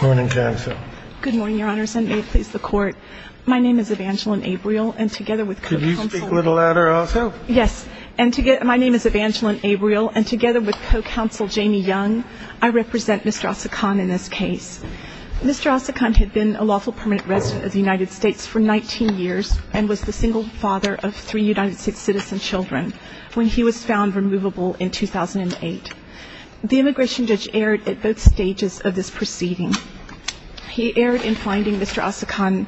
Good morning, Your Honors, and may it please the Court. My name is Evangeline Abreel, and together with Co-Counsel Jamie Young, I represent Mr. Asican in this case. Mr. Asican had been a lawful permanent resident of the United States for 19 years and was the single father of three United States citizen children when he was found removable in 2008. The immigration judge erred at both stages of this proceeding. He erred in finding Mr. Asican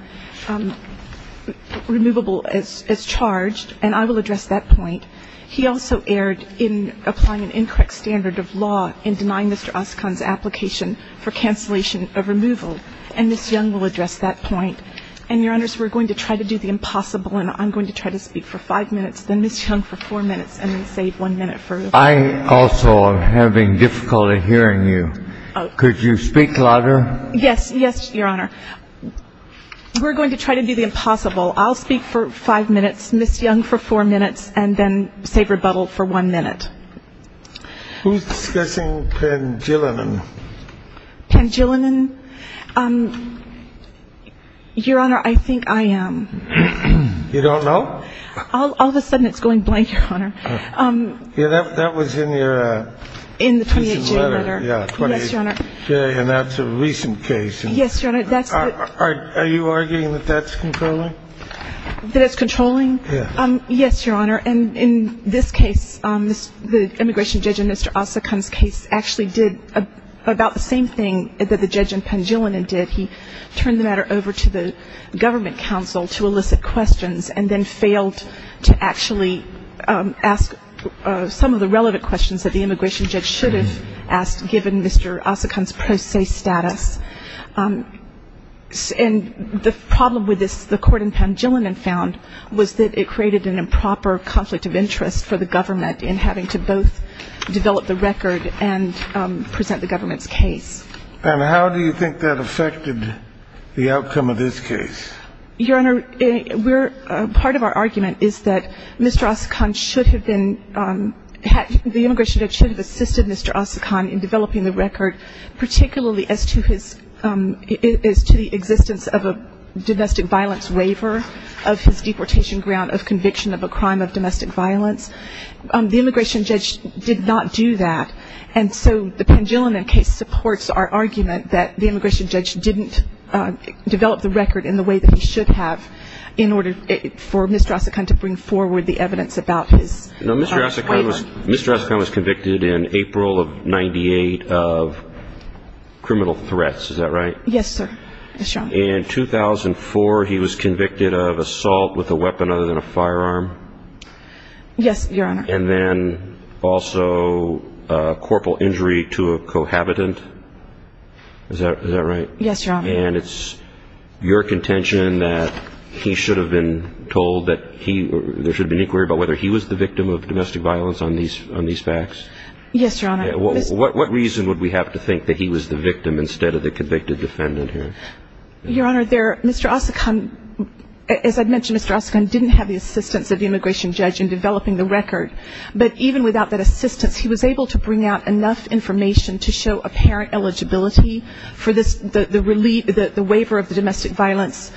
removable as charged, and I will address that point. He also erred in applying an incorrect standard of law in denying Mr. Asican's application for cancellation of removal, and Ms. Young will address that point. And, Your Honors, we're going to try to do the impossible, and I'm going to try to speak for five minutes, then Ms. Young for four minutes, and then save one minute for Ms. Young. Also, I'm having difficulty hearing you. Could you speak louder? Yes, yes, Your Honor. We're going to try to do the impossible. I'll speak for five minutes, Ms. Young for four minutes, and then save rebuttal for one minute. Who's discussing pangilinan? Pangilinan? Your Honor, I think I am. You don't know? All of a sudden it's going blank, Your Honor. Yeah, that was in your letter. In the 28-J letter. Yeah, 28-J, and that's a recent case. Yes, Your Honor. Are you arguing that that's controlling? That it's controlling? Yeah. Yes, Your Honor. And in this case, the immigration judge in Mr. Asican's case actually did about the same thing that the judge in pangilinan did. He turned the matter over to the government counsel to elicit questions, and then failed to actually ask some of the relevant questions that the immigration judge should have asked, given Mr. Asican's pro se status. And the problem with this, the court in pangilinan found, was that it created an improper conflict of interest for the government in having to both develop the record and present the government's case. And how do you think that affected the outcome of this case? Your Honor, part of our argument is that Mr. Asican should have been, the immigration judge should have assisted Mr. Asican in developing the record, particularly as to his, as to the existence of a domestic violence waiver of his deportation ground of conviction of a crime of domestic violence. The immigration judge did not do that. And so the pangilinan case supports our argument that the immigration judge didn't develop the record in the way that he should have in order for Mr. Asican to bring forward the evidence about his waiver. Mr. Asican was convicted in April of 98 of criminal threats, is that right? Yes, sir. In 2004, he was convicted of assault with a weapon other than a firearm? Yes, Your Honor. And then also corporal injury to a cohabitant? Is that right? Yes, Your Honor. And it's your contention that he should have been told that he, there should have been an inquiry about whether he was the victim of domestic violence on these facts? Yes, Your Honor. What reason would we have to think that he was the victim instead of the convicted defendant here? Your Honor, there, Mr. Asican, as I mentioned, Mr. Asican didn't have the assistance of the immigration judge in developing the record. But even without that assistance, he was able to bring out enough information to show apparent eligibility for this, the waiver of the domestic violence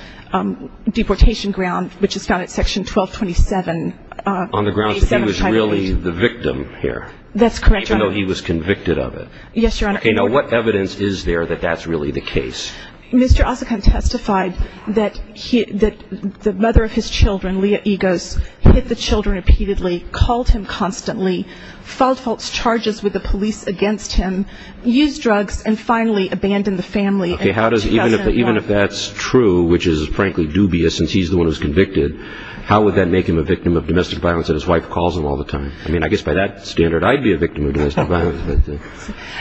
deportation ground, which is found at Section 1227. On the grounds that he was really the victim here? That's correct, Your Honor. Even though he was convicted of it? Yes, Your Honor. Okay, now what evidence is there that that's really the case? Mr. Asican testified that the mother of his children, Leah Egos, hit the children repeatedly, called him constantly, filed false charges with the police against him, used drugs, and finally abandoned the family. Okay, how does, even if that's true, which is frankly dubious since he's the one who's convicted, how would that make him a victim of domestic violence if his wife calls him all the time? I mean, I guess by that standard, I'd be a victim of domestic violence.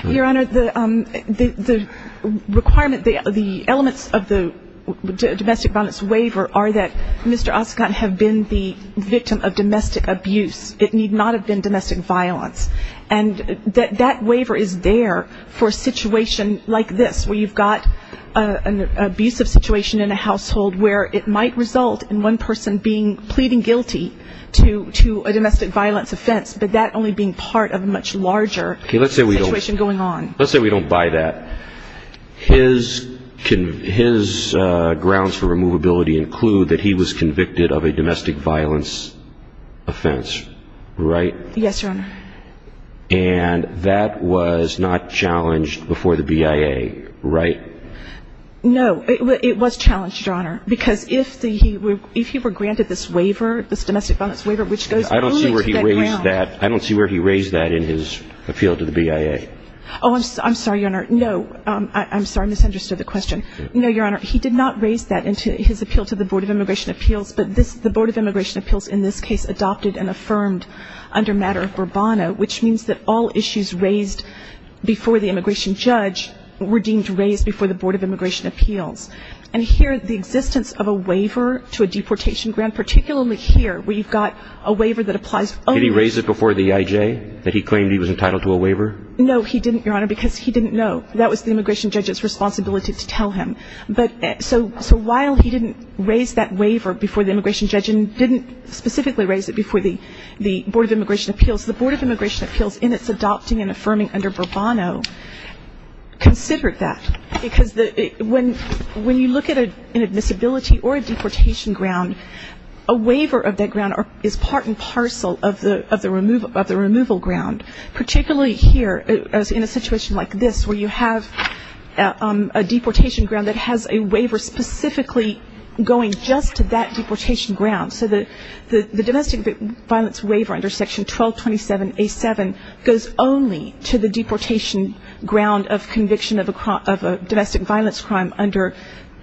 Your Honor, the requirement, the elements of the domestic violence waiver are that Mr. Asican have been the victim of domestic abuse. It need not have been domestic violence. And that waiver is there for a situation like this where you've got an abusive situation in a household where it might result in one person pleading guilty to a domestic violence offense, but that only being part of a much larger situation going on. Okay, let's say we don't buy that. His grounds for removability include that he was convicted of a domestic violence offense, right? Yes, Your Honor. And that was not challenged before the BIA, right? No, it was challenged, Your Honor, because if he were granted this waiver, this domestic violence waiver, which goes only to that ground. I don't see where he raised that in his appeal to the BIA. Oh, I'm sorry, Your Honor. No, I'm sorry, I misunderstood the question. No, Your Honor, he did not raise that in his appeal to the Board of Immigration Appeals, but the Board of Immigration Appeals in this case adopted and affirmed under matter of Burbano, which means that all issues raised before the immigration judge were deemed raised before the Board of Immigration Appeals. And here the existence of a waiver to a deportation grant, particularly here where you've got a waiver that applies only to the immigration judge. Did he raise it before the EIJ that he claimed he was entitled to a waiver? No, he didn't, Your Honor, because he didn't know. That was the immigration judge's responsibility to tell him. But so while he didn't raise that waiver before the immigration judge and didn't specifically raise it before the Board of Immigration Appeals, the Board of Immigration Appeals in its adopting and affirming under Burbano considered that because when you look at an admissibility or a deportation grant, a waiver of that grant is part and parcel of the removal grant, particularly here in a situation like this where you have a deportation grant that has a waiver specifically going just to that deportation grant. So the domestic violence waiver under Section 1227A7 goes only to the deportation ground of conviction of a domestic violence crime under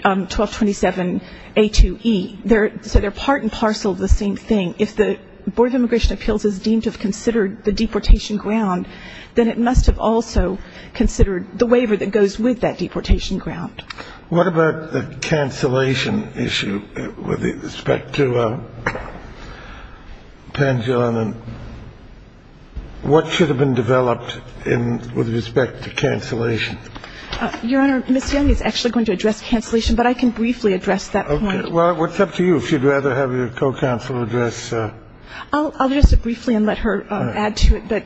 1227A2E. So they're part and parcel of the same thing. If the Board of Immigration Appeals is deemed to have considered the deportation ground, then it must have also considered the waiver that goes with that deportation ground. What about the cancellation issue with respect to Pangilinan? What should have been developed with respect to cancellation? Your Honor, Ms. Yanni is actually going to address cancellation, but I can briefly address that point. Okay. Well, what's up to you? If you'd rather have your co-counsel address. I'll address it briefly and let her add to it. But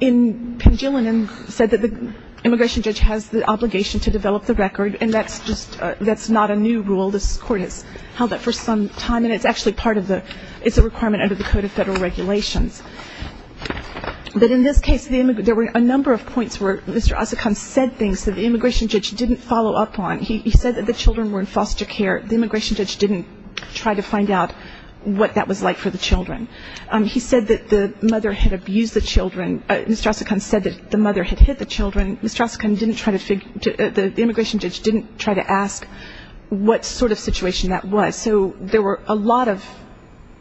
in Pangilinan said that the immigration judge has the obligation to develop the record and that's not a new rule. This Court has held that for some time and it's actually part of the ‑‑ it's a requirement under the Code of Federal Regulations. But in this case, there were a number of points where Mr. Asakan said things that the immigration judge didn't follow up on. He said that the children were in foster care. The immigration judge didn't try to find out what that was like for the children. He said that the mother had abused the children. Mr. Asakan said that the mother had hit the children. Mr. Asakan didn't try to figure ‑‑ the immigration judge didn't try to ask what sort of situation that was. So there were a lot of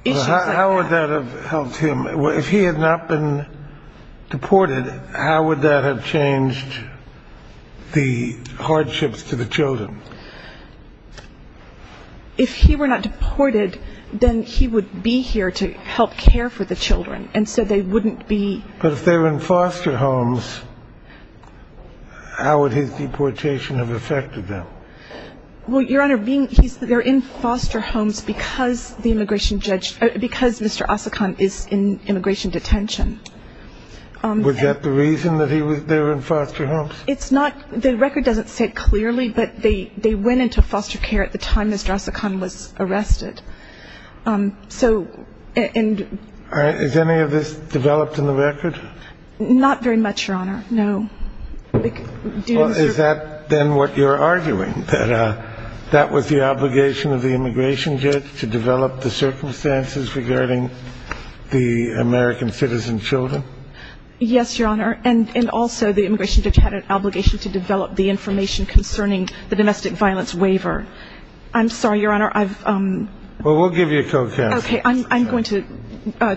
issues like that. How would that have helped him? If he had not been deported, how would that have changed the hardships to the children? If he were not deported, then he would be here to help care for the children. And so they wouldn't be ‑‑ But if they were in foster homes, how would his deportation have affected them? Well, Your Honor, being ‑‑ they're in foster homes because the immigration judge ‑‑ because Mr. Asakan is in immigration detention. Was that the reason that they were in foster homes? It's not ‑‑ the record doesn't say clearly, but they went into foster care at the time Mr. Asakan was arrested. So ‑‑ Has any of this developed in the record? Not very much, Your Honor, no. Is that then what you're arguing, that that was the obligation of the immigration judge to develop the circumstances regarding the American citizen children? Yes, Your Honor, and also the immigration judge had an obligation to develop the information concerning the domestic violence waiver. I'm sorry, Your Honor, I've ‑‑ Well, we'll give you a co‑counsel. Okay, I'm going to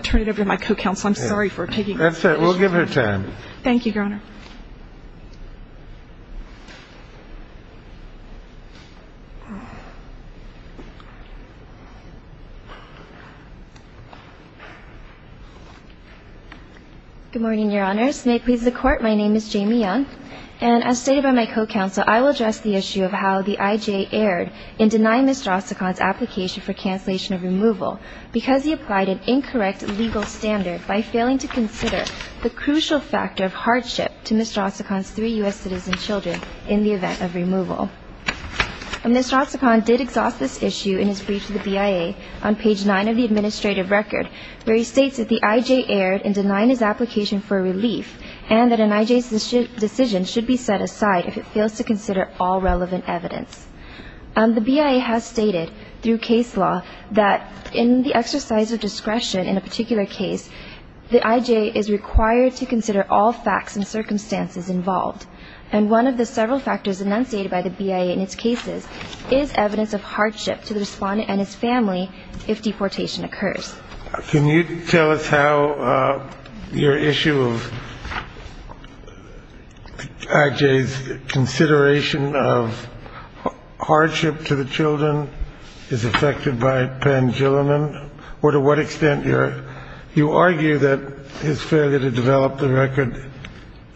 turn it over to my co‑counsel. I'm sorry for taking the initiative. That's all right. We'll give her time. Thank you, Your Honor. Good morning, Your Honors. May it please the Court, my name is Jamie Young, and as stated by my co‑counsel, I will address the issue of how the IJ erred in denying Mr. Asakan's application for cancellation of removal because he applied an incorrect legal standard by failing to consider the crucial factor of hardship to Mr. Asakan's three U.S. citizen children in the event of removal. Mr. Asakan did exhaust this issue in his brief to the BIA on page 9 of the administrative record where he states that the IJ erred in denying his application for relief and that an IJ's decision should be set aside if it fails to consider all relevant evidence. The BIA has stated through case law that in the exercise of discretion in a particular case, the IJ is required to consider all facts and circumstances involved, and one of the several factors enunciated by the BIA in its cases is evidence of hardship to the respondent and his family if deportation occurs. Can you tell us how your issue of IJ's consideration of hardship to the children is affected by Panjilinan, or to what extent you argue that his failure to develop the record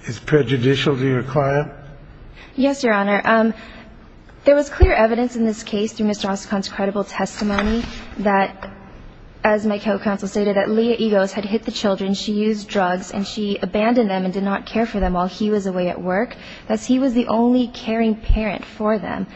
is prejudicial to your client? Yes, Your Honor. There was clear evidence in this case through Mr. Asakan's credible testimony that, as my co-counsel stated, that Leah Egos had hit the children, she used drugs, and she abandoned them and did not care for them while he was away at work. Thus, he was the only caring parent for them.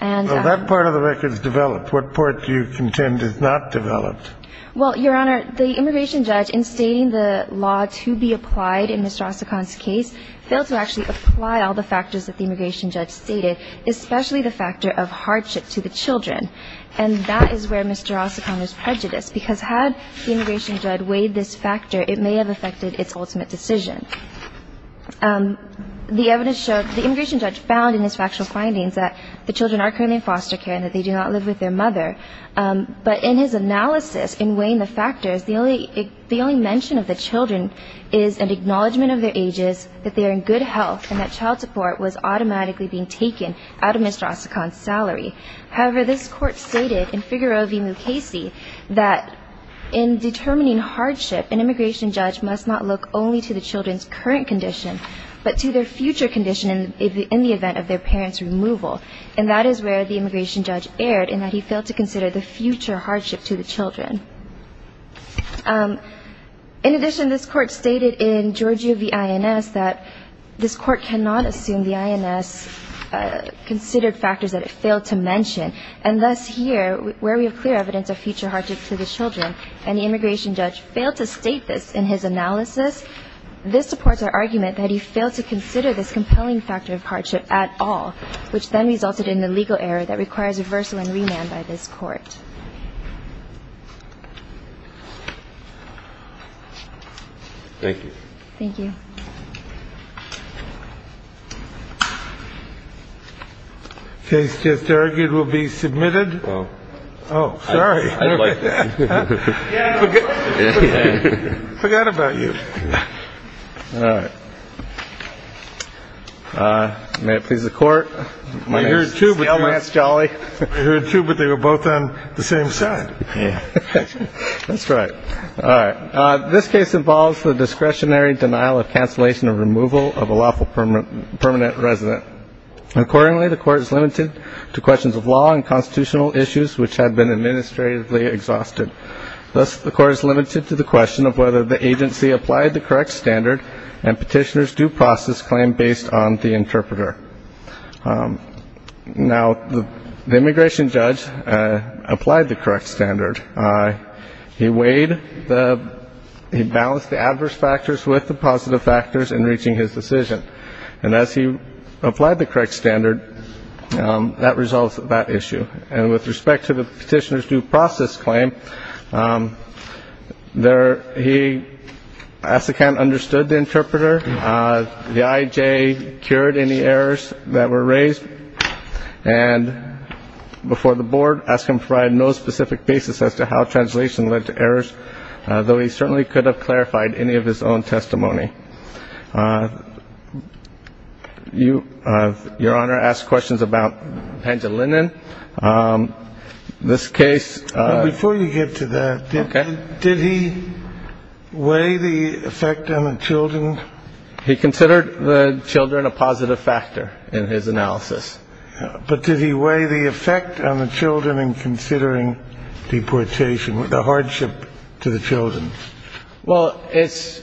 Well, that part of the record is developed. What part do you contend is not developed? Well, Your Honor, the immigration judge in stating the law to be applied in Mr. Asakan's case failed to actually apply all the factors that the immigration judge stated, especially the factor of hardship to the children. And that is where Mr. Asakan is prejudiced, because had the immigration judge weighed this factor, it may have affected its ultimate decision. The evidence showed the immigration judge found in his factual findings that the children are currently in foster care and that they do not live with their mother. But in his analysis in weighing the factors, the only mention of the children is an acknowledgement of their ages, that they are in good health, and that child support was automatically being taken out of Mr. Asakan's salary. However, this court stated in Figaro v. Mukasey that in determining hardship, an immigration judge must not look only to the children's current condition, but to their future condition in the event of their parents' removal. And that is where the immigration judge erred in that he failed to consider the future hardship to the children. In addition, this court stated in Giorgio v. INS that this court cannot assume the INS considered factors that it failed to mention, and thus here, where we have clear evidence of future hardship to the children and the immigration judge failed to state this in his analysis, this supports our argument that he failed to consider this compelling factor of hardship at all, which then resulted in the legal error that requires reversal and remand by this court. Thank you. Thank you. Case just argued will be submitted. Oh, sorry. I forgot about you. All right. May it please the court. I heard two, but they were both on the same side. That's right. All right. This case involves the discretionary denial of cancellation of removal of a lawful permanent resident. Accordingly, the court is limited to questions of law and constitutional issues which have been administratively exhausted. Thus, the court is limited to the question of whether the agency applied the correct standard and petitioner's due process claim based on the interpreter. Now, the immigration judge applied the correct standard. He weighed the ñ he balanced the adverse factors with the positive factors in reaching his decision. And as he applied the correct standard, that resolves that issue. And with respect to the petitioner's due process claim, there ñ he, as a count, understood the interpreter. The IJ cured any errors that were raised. And before the board, asked him to provide no specific basis as to how translation led to errors, though he certainly could have clarified any of his own testimony. You, Your Honor, asked questions about Pangellinan. This case ñ Before you get to that, did he weigh the effect on the children? He considered the children a positive factor in his analysis. But did he weigh the effect on the children in considering deportation, the hardship to the children? Well, it's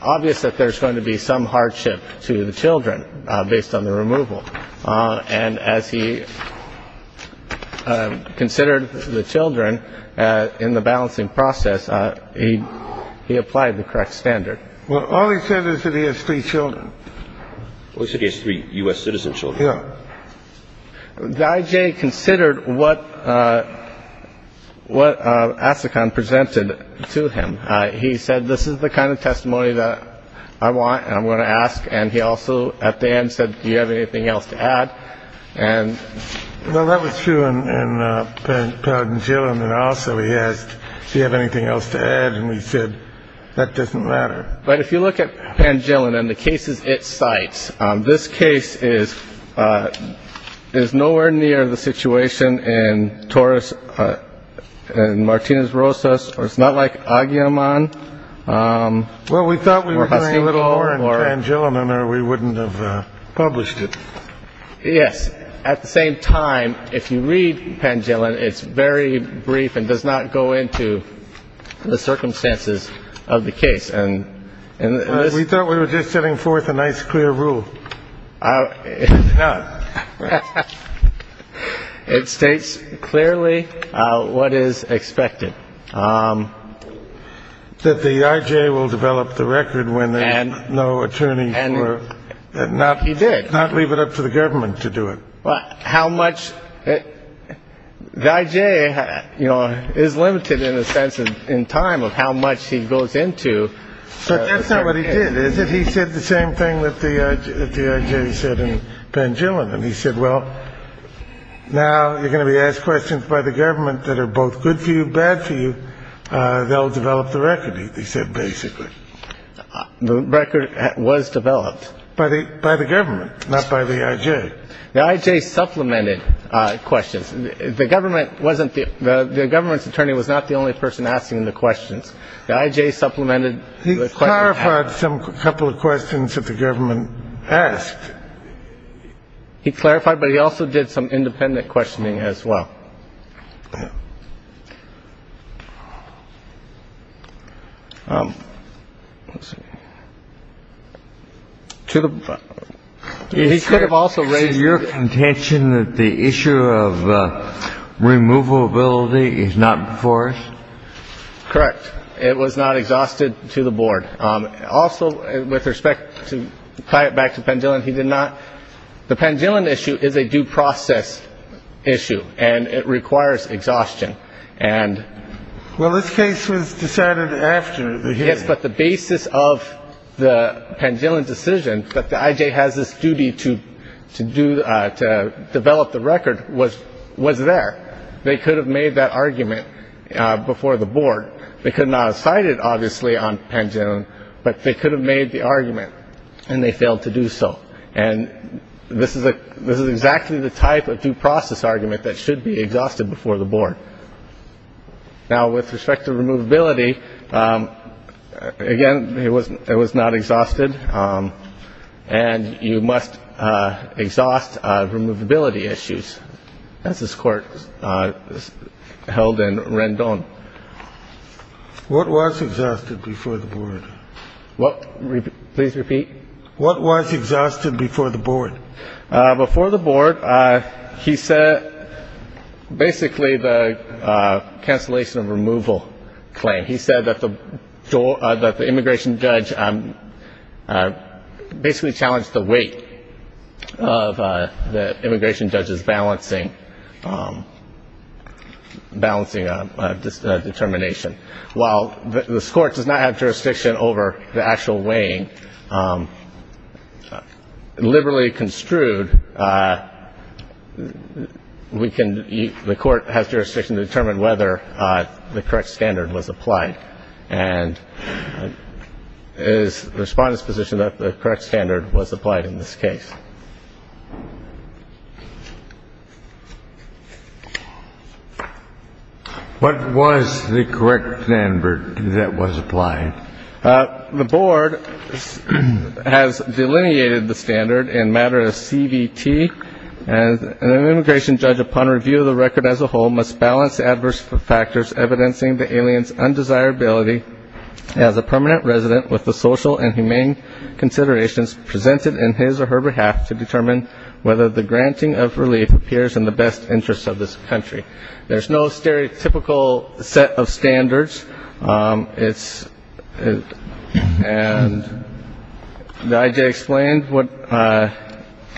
obvious that there's going to be some hardship to the children based on the removal. And as he considered the children in the balancing process, he applied the correct standard. Well, all he said is that he has three children. Well, he said he has three U.S. citizen children. Yeah. The IJ considered what Asikhan presented to him. He said, this is the kind of testimony that I want, and I'm going to ask. And he also, at the end, said, do you have anything else to add? Well, that was true in Pangellinan also. He asked, do you have anything else to add? And we said, that doesn't matter. But if you look at Pangellinan, the cases it cites, this case is nowhere near the situation in Torres and Martinez-Rosas. It's not like Agyeman. Well, we thought we were doing a little more in Pangellinan or we wouldn't have published it. Yes. At the same time, if you read Pangellinan, it's very brief and does not go into the circumstances of the case. We thought we were just setting forth a nice, clear rule. It states clearly what is expected. That the IJ will develop the record when there's no attorney. He did. Not leave it up to the government to do it. The IJ is limited in a sense in time of how much he goes into. But that's not what he did, is it? He said the same thing that the IJ said in Pangellinan. He said, well, now you're going to be asked questions by the government that are both good for you, bad for you. They'll develop the record, he said, basically. The record was developed. By the government, not by the IJ. The IJ supplemented questions. The government wasn't the the government's attorney was not the only person asking the questions. The IJ supplemented the questions. He clarified a couple of questions that the government asked. He clarified, but he also did some independent questioning as well. Let's see. To the. He could have also raised your contention that the issue of removability is not before us. Correct. It was not exhausted to the board. Also, with respect to tie it back to Pangellan, he did not. The Pangellan issue is a due process issue and it requires exhaustion. And well, this case was decided after. Yes. But the basis of the Pangellan decision that the IJ has this duty to to do to develop the record was was there. They could have made that argument before the board. They could not have cited obviously on Pangellan, but they could have made the argument and they failed to do so. And this is a this is exactly the type of due process argument that should be exhausted before the board. Now, with respect to removability, again, it was it was not exhausted and you must exhaust removability issues. That's this court held in Rendon. What was exhausted before the board? Please repeat. What was exhausted before the board? Before the board, he said basically the cancellation of removal claim. He said that the door that the immigration judge basically challenged the weight of the immigration judge's balancing balancing determination. While the court does not have jurisdiction over the actual weighing liberally construed. We can eat. The court has jurisdiction to determine whether the correct standard was applied and is the respondent's position that the correct standard was applied in this case. What was the correct standard that was applied? The board has delineated the standard in matter of CVT. And an immigration judge, upon review of the record as a whole, must balance adverse factors evidencing the aliens undesirability as a permanent resident with the social and humane considerations presented in his or her behalf to determine whether the granting of relief appears in the best interest of this country. There's no stereotypical set of standards. It's and the IJ explained what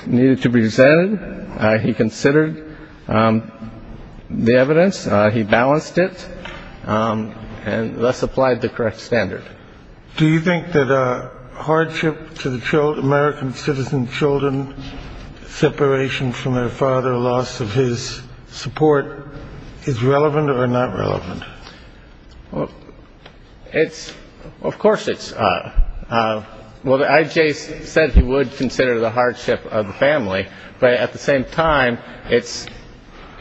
needed to be said. He considered the evidence. He balanced it and thus applied the correct standard. Do you think that a hardship to the American citizen children separation from their father, loss of his support is relevant or not relevant? Well, it's of course it's. Well, the IJ said he would consider the hardship of the family. But at the same time, it's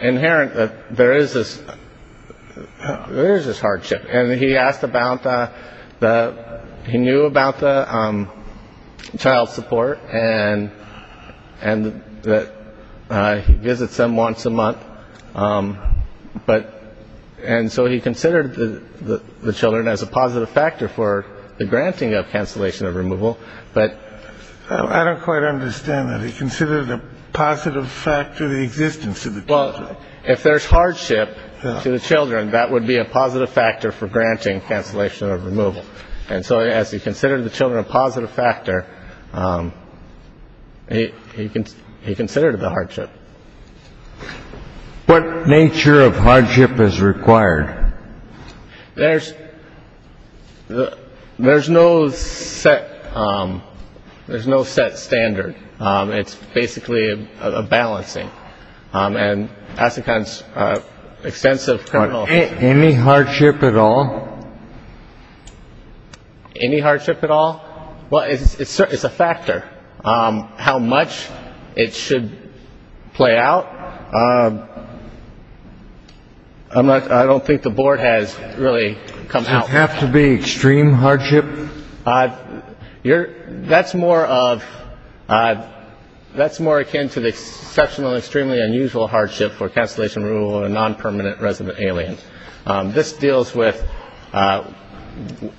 inherent that there is this. There's this hardship. And he asked about the he knew about the child support and and that he visits them once a month. But and so he considered the children as a positive factor for the granting of cancellation of removal. But I don't quite understand that. Consider the positive factor of the existence of the. If there's hardship to the children, that would be a positive factor for granting cancellation of removal. And so as he considered the children a positive factor, he he considered the hardship. What nature of hardship is required? There's there's no set. There's no set standard. It's basically a balancing. And I think that's extensive. Any hardship at all. Any hardship at all. Well, it's a factor. How much it should play out. I'm not I don't think the board has really come out. Have to be extreme hardship. You're that's more of that's more akin to the exceptional, extremely unusual hardship for cancellation rule of a non-permanent resident alien. This deals with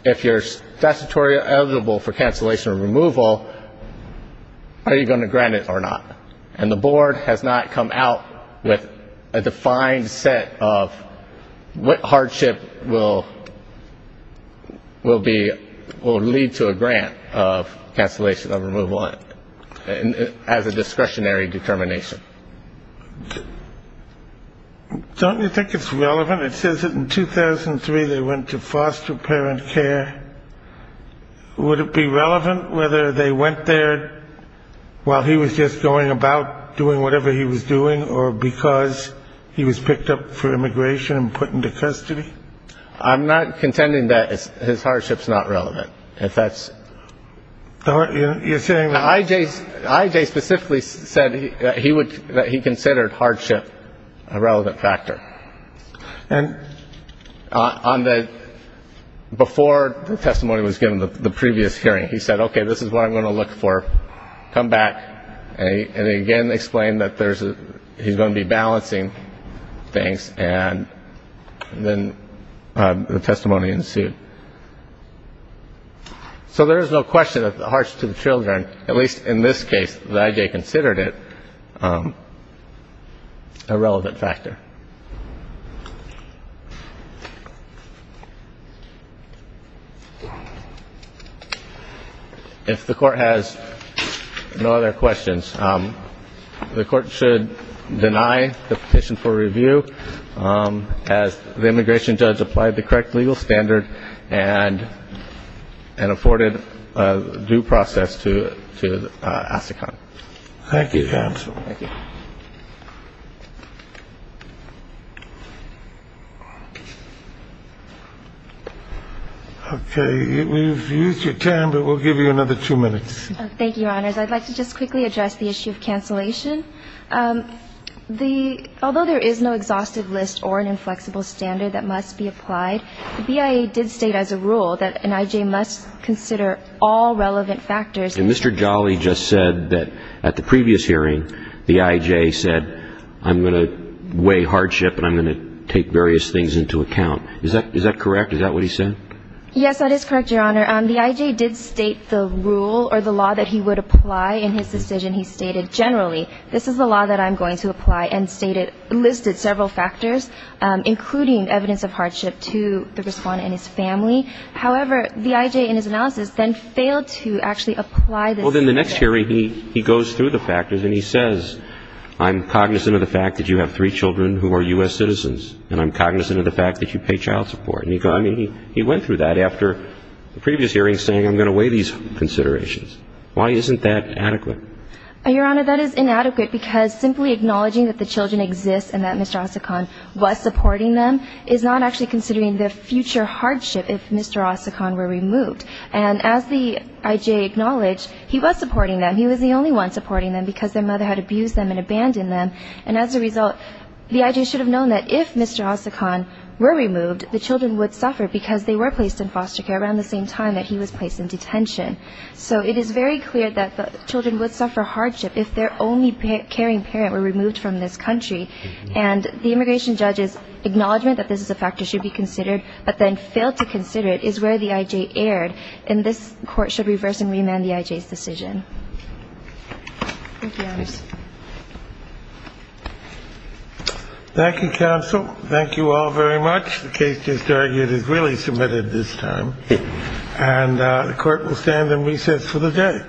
if you're statutory eligible for cancellation removal, are you going to grant it or not? And the board has not come out with a defined set of what hardship will will be will lead to a grant of cancellation of removal. As a discretionary determination. Don't you think it's relevant? It says in 2003 they went to foster parent care. Would it be relevant whether they went there while he was just going about doing whatever he was doing or because he was picked up for immigration and put into custody? I'm not contending that his hardship is not relevant. If that's what you're saying, I.J. I.J. specifically said he would he considered hardship a relevant factor. And on the before the testimony was given, the previous hearing, he said, OK, this is what I'm going to look for. Come back and again explain that there's he's going to be balancing things. And then the testimony ensued. So there is no question of the hearts to the children, at least in this case that I.J. considered it a relevant factor. If the court has no other questions, the court should deny the petition for review. As the immigration judge applied the correct legal standard and and afforded due process to to ask. Thank you. We've used your time, but we'll give you another two minutes. Thank you. I'd like to just quickly address the issue of cancellation. The although there is no exhaustive list or an inflexible standard that must be applied. The BIA did state as a rule that an I.J. must consider all relevant factors. And Mr. Jolly just said that at the previous hearing, the I.J. said, I'm going to weigh hardship and I'm going to take various things into account. Is that is that correct? Is that what he said? Yes, that is correct. Your Honor, the I.J. did state the rule or the law that he would apply in his decision. He stated generally, this is the law that I'm going to apply and stated listed several factors, including evidence of hardship to the respondent and his family. However, the I.J. in his analysis then failed to actually apply. Well, then the next hearing, he goes through the factors and he says, I'm cognizant of the fact that you have three children who are U.S. citizens and I'm cognizant of the fact that you pay child support. I mean, he went through that after the previous hearing saying, I'm going to weigh these considerations. Why isn't that adequate? Your Honor, that is inadequate because simply acknowledging that the children exist and that Mr. Ossacon was supporting them is not actually considering the future hardship if Mr. Ossacon were removed. And as the I.J. acknowledged, he was supporting them. He was the only one supporting them because their mother had abused them and abandoned them. And as a result, the I.J. should have known that if Mr. Ossacon were removed, the children would suffer because they were placed in foster care around the same time that he was placed in detention. So it is very clear that the children would suffer hardship if their only caring parent were removed from this country. And the immigration judge's acknowledgement that this is a factor should be considered, but then failed to consider it, is where the I.J. erred, and this Court should reverse and remand the I.J.'s decision. Thank you, Your Honor. Thank you, counsel. Thank you all very much. The case just argued is really submitted this time. And the Court will stand in recess for the day.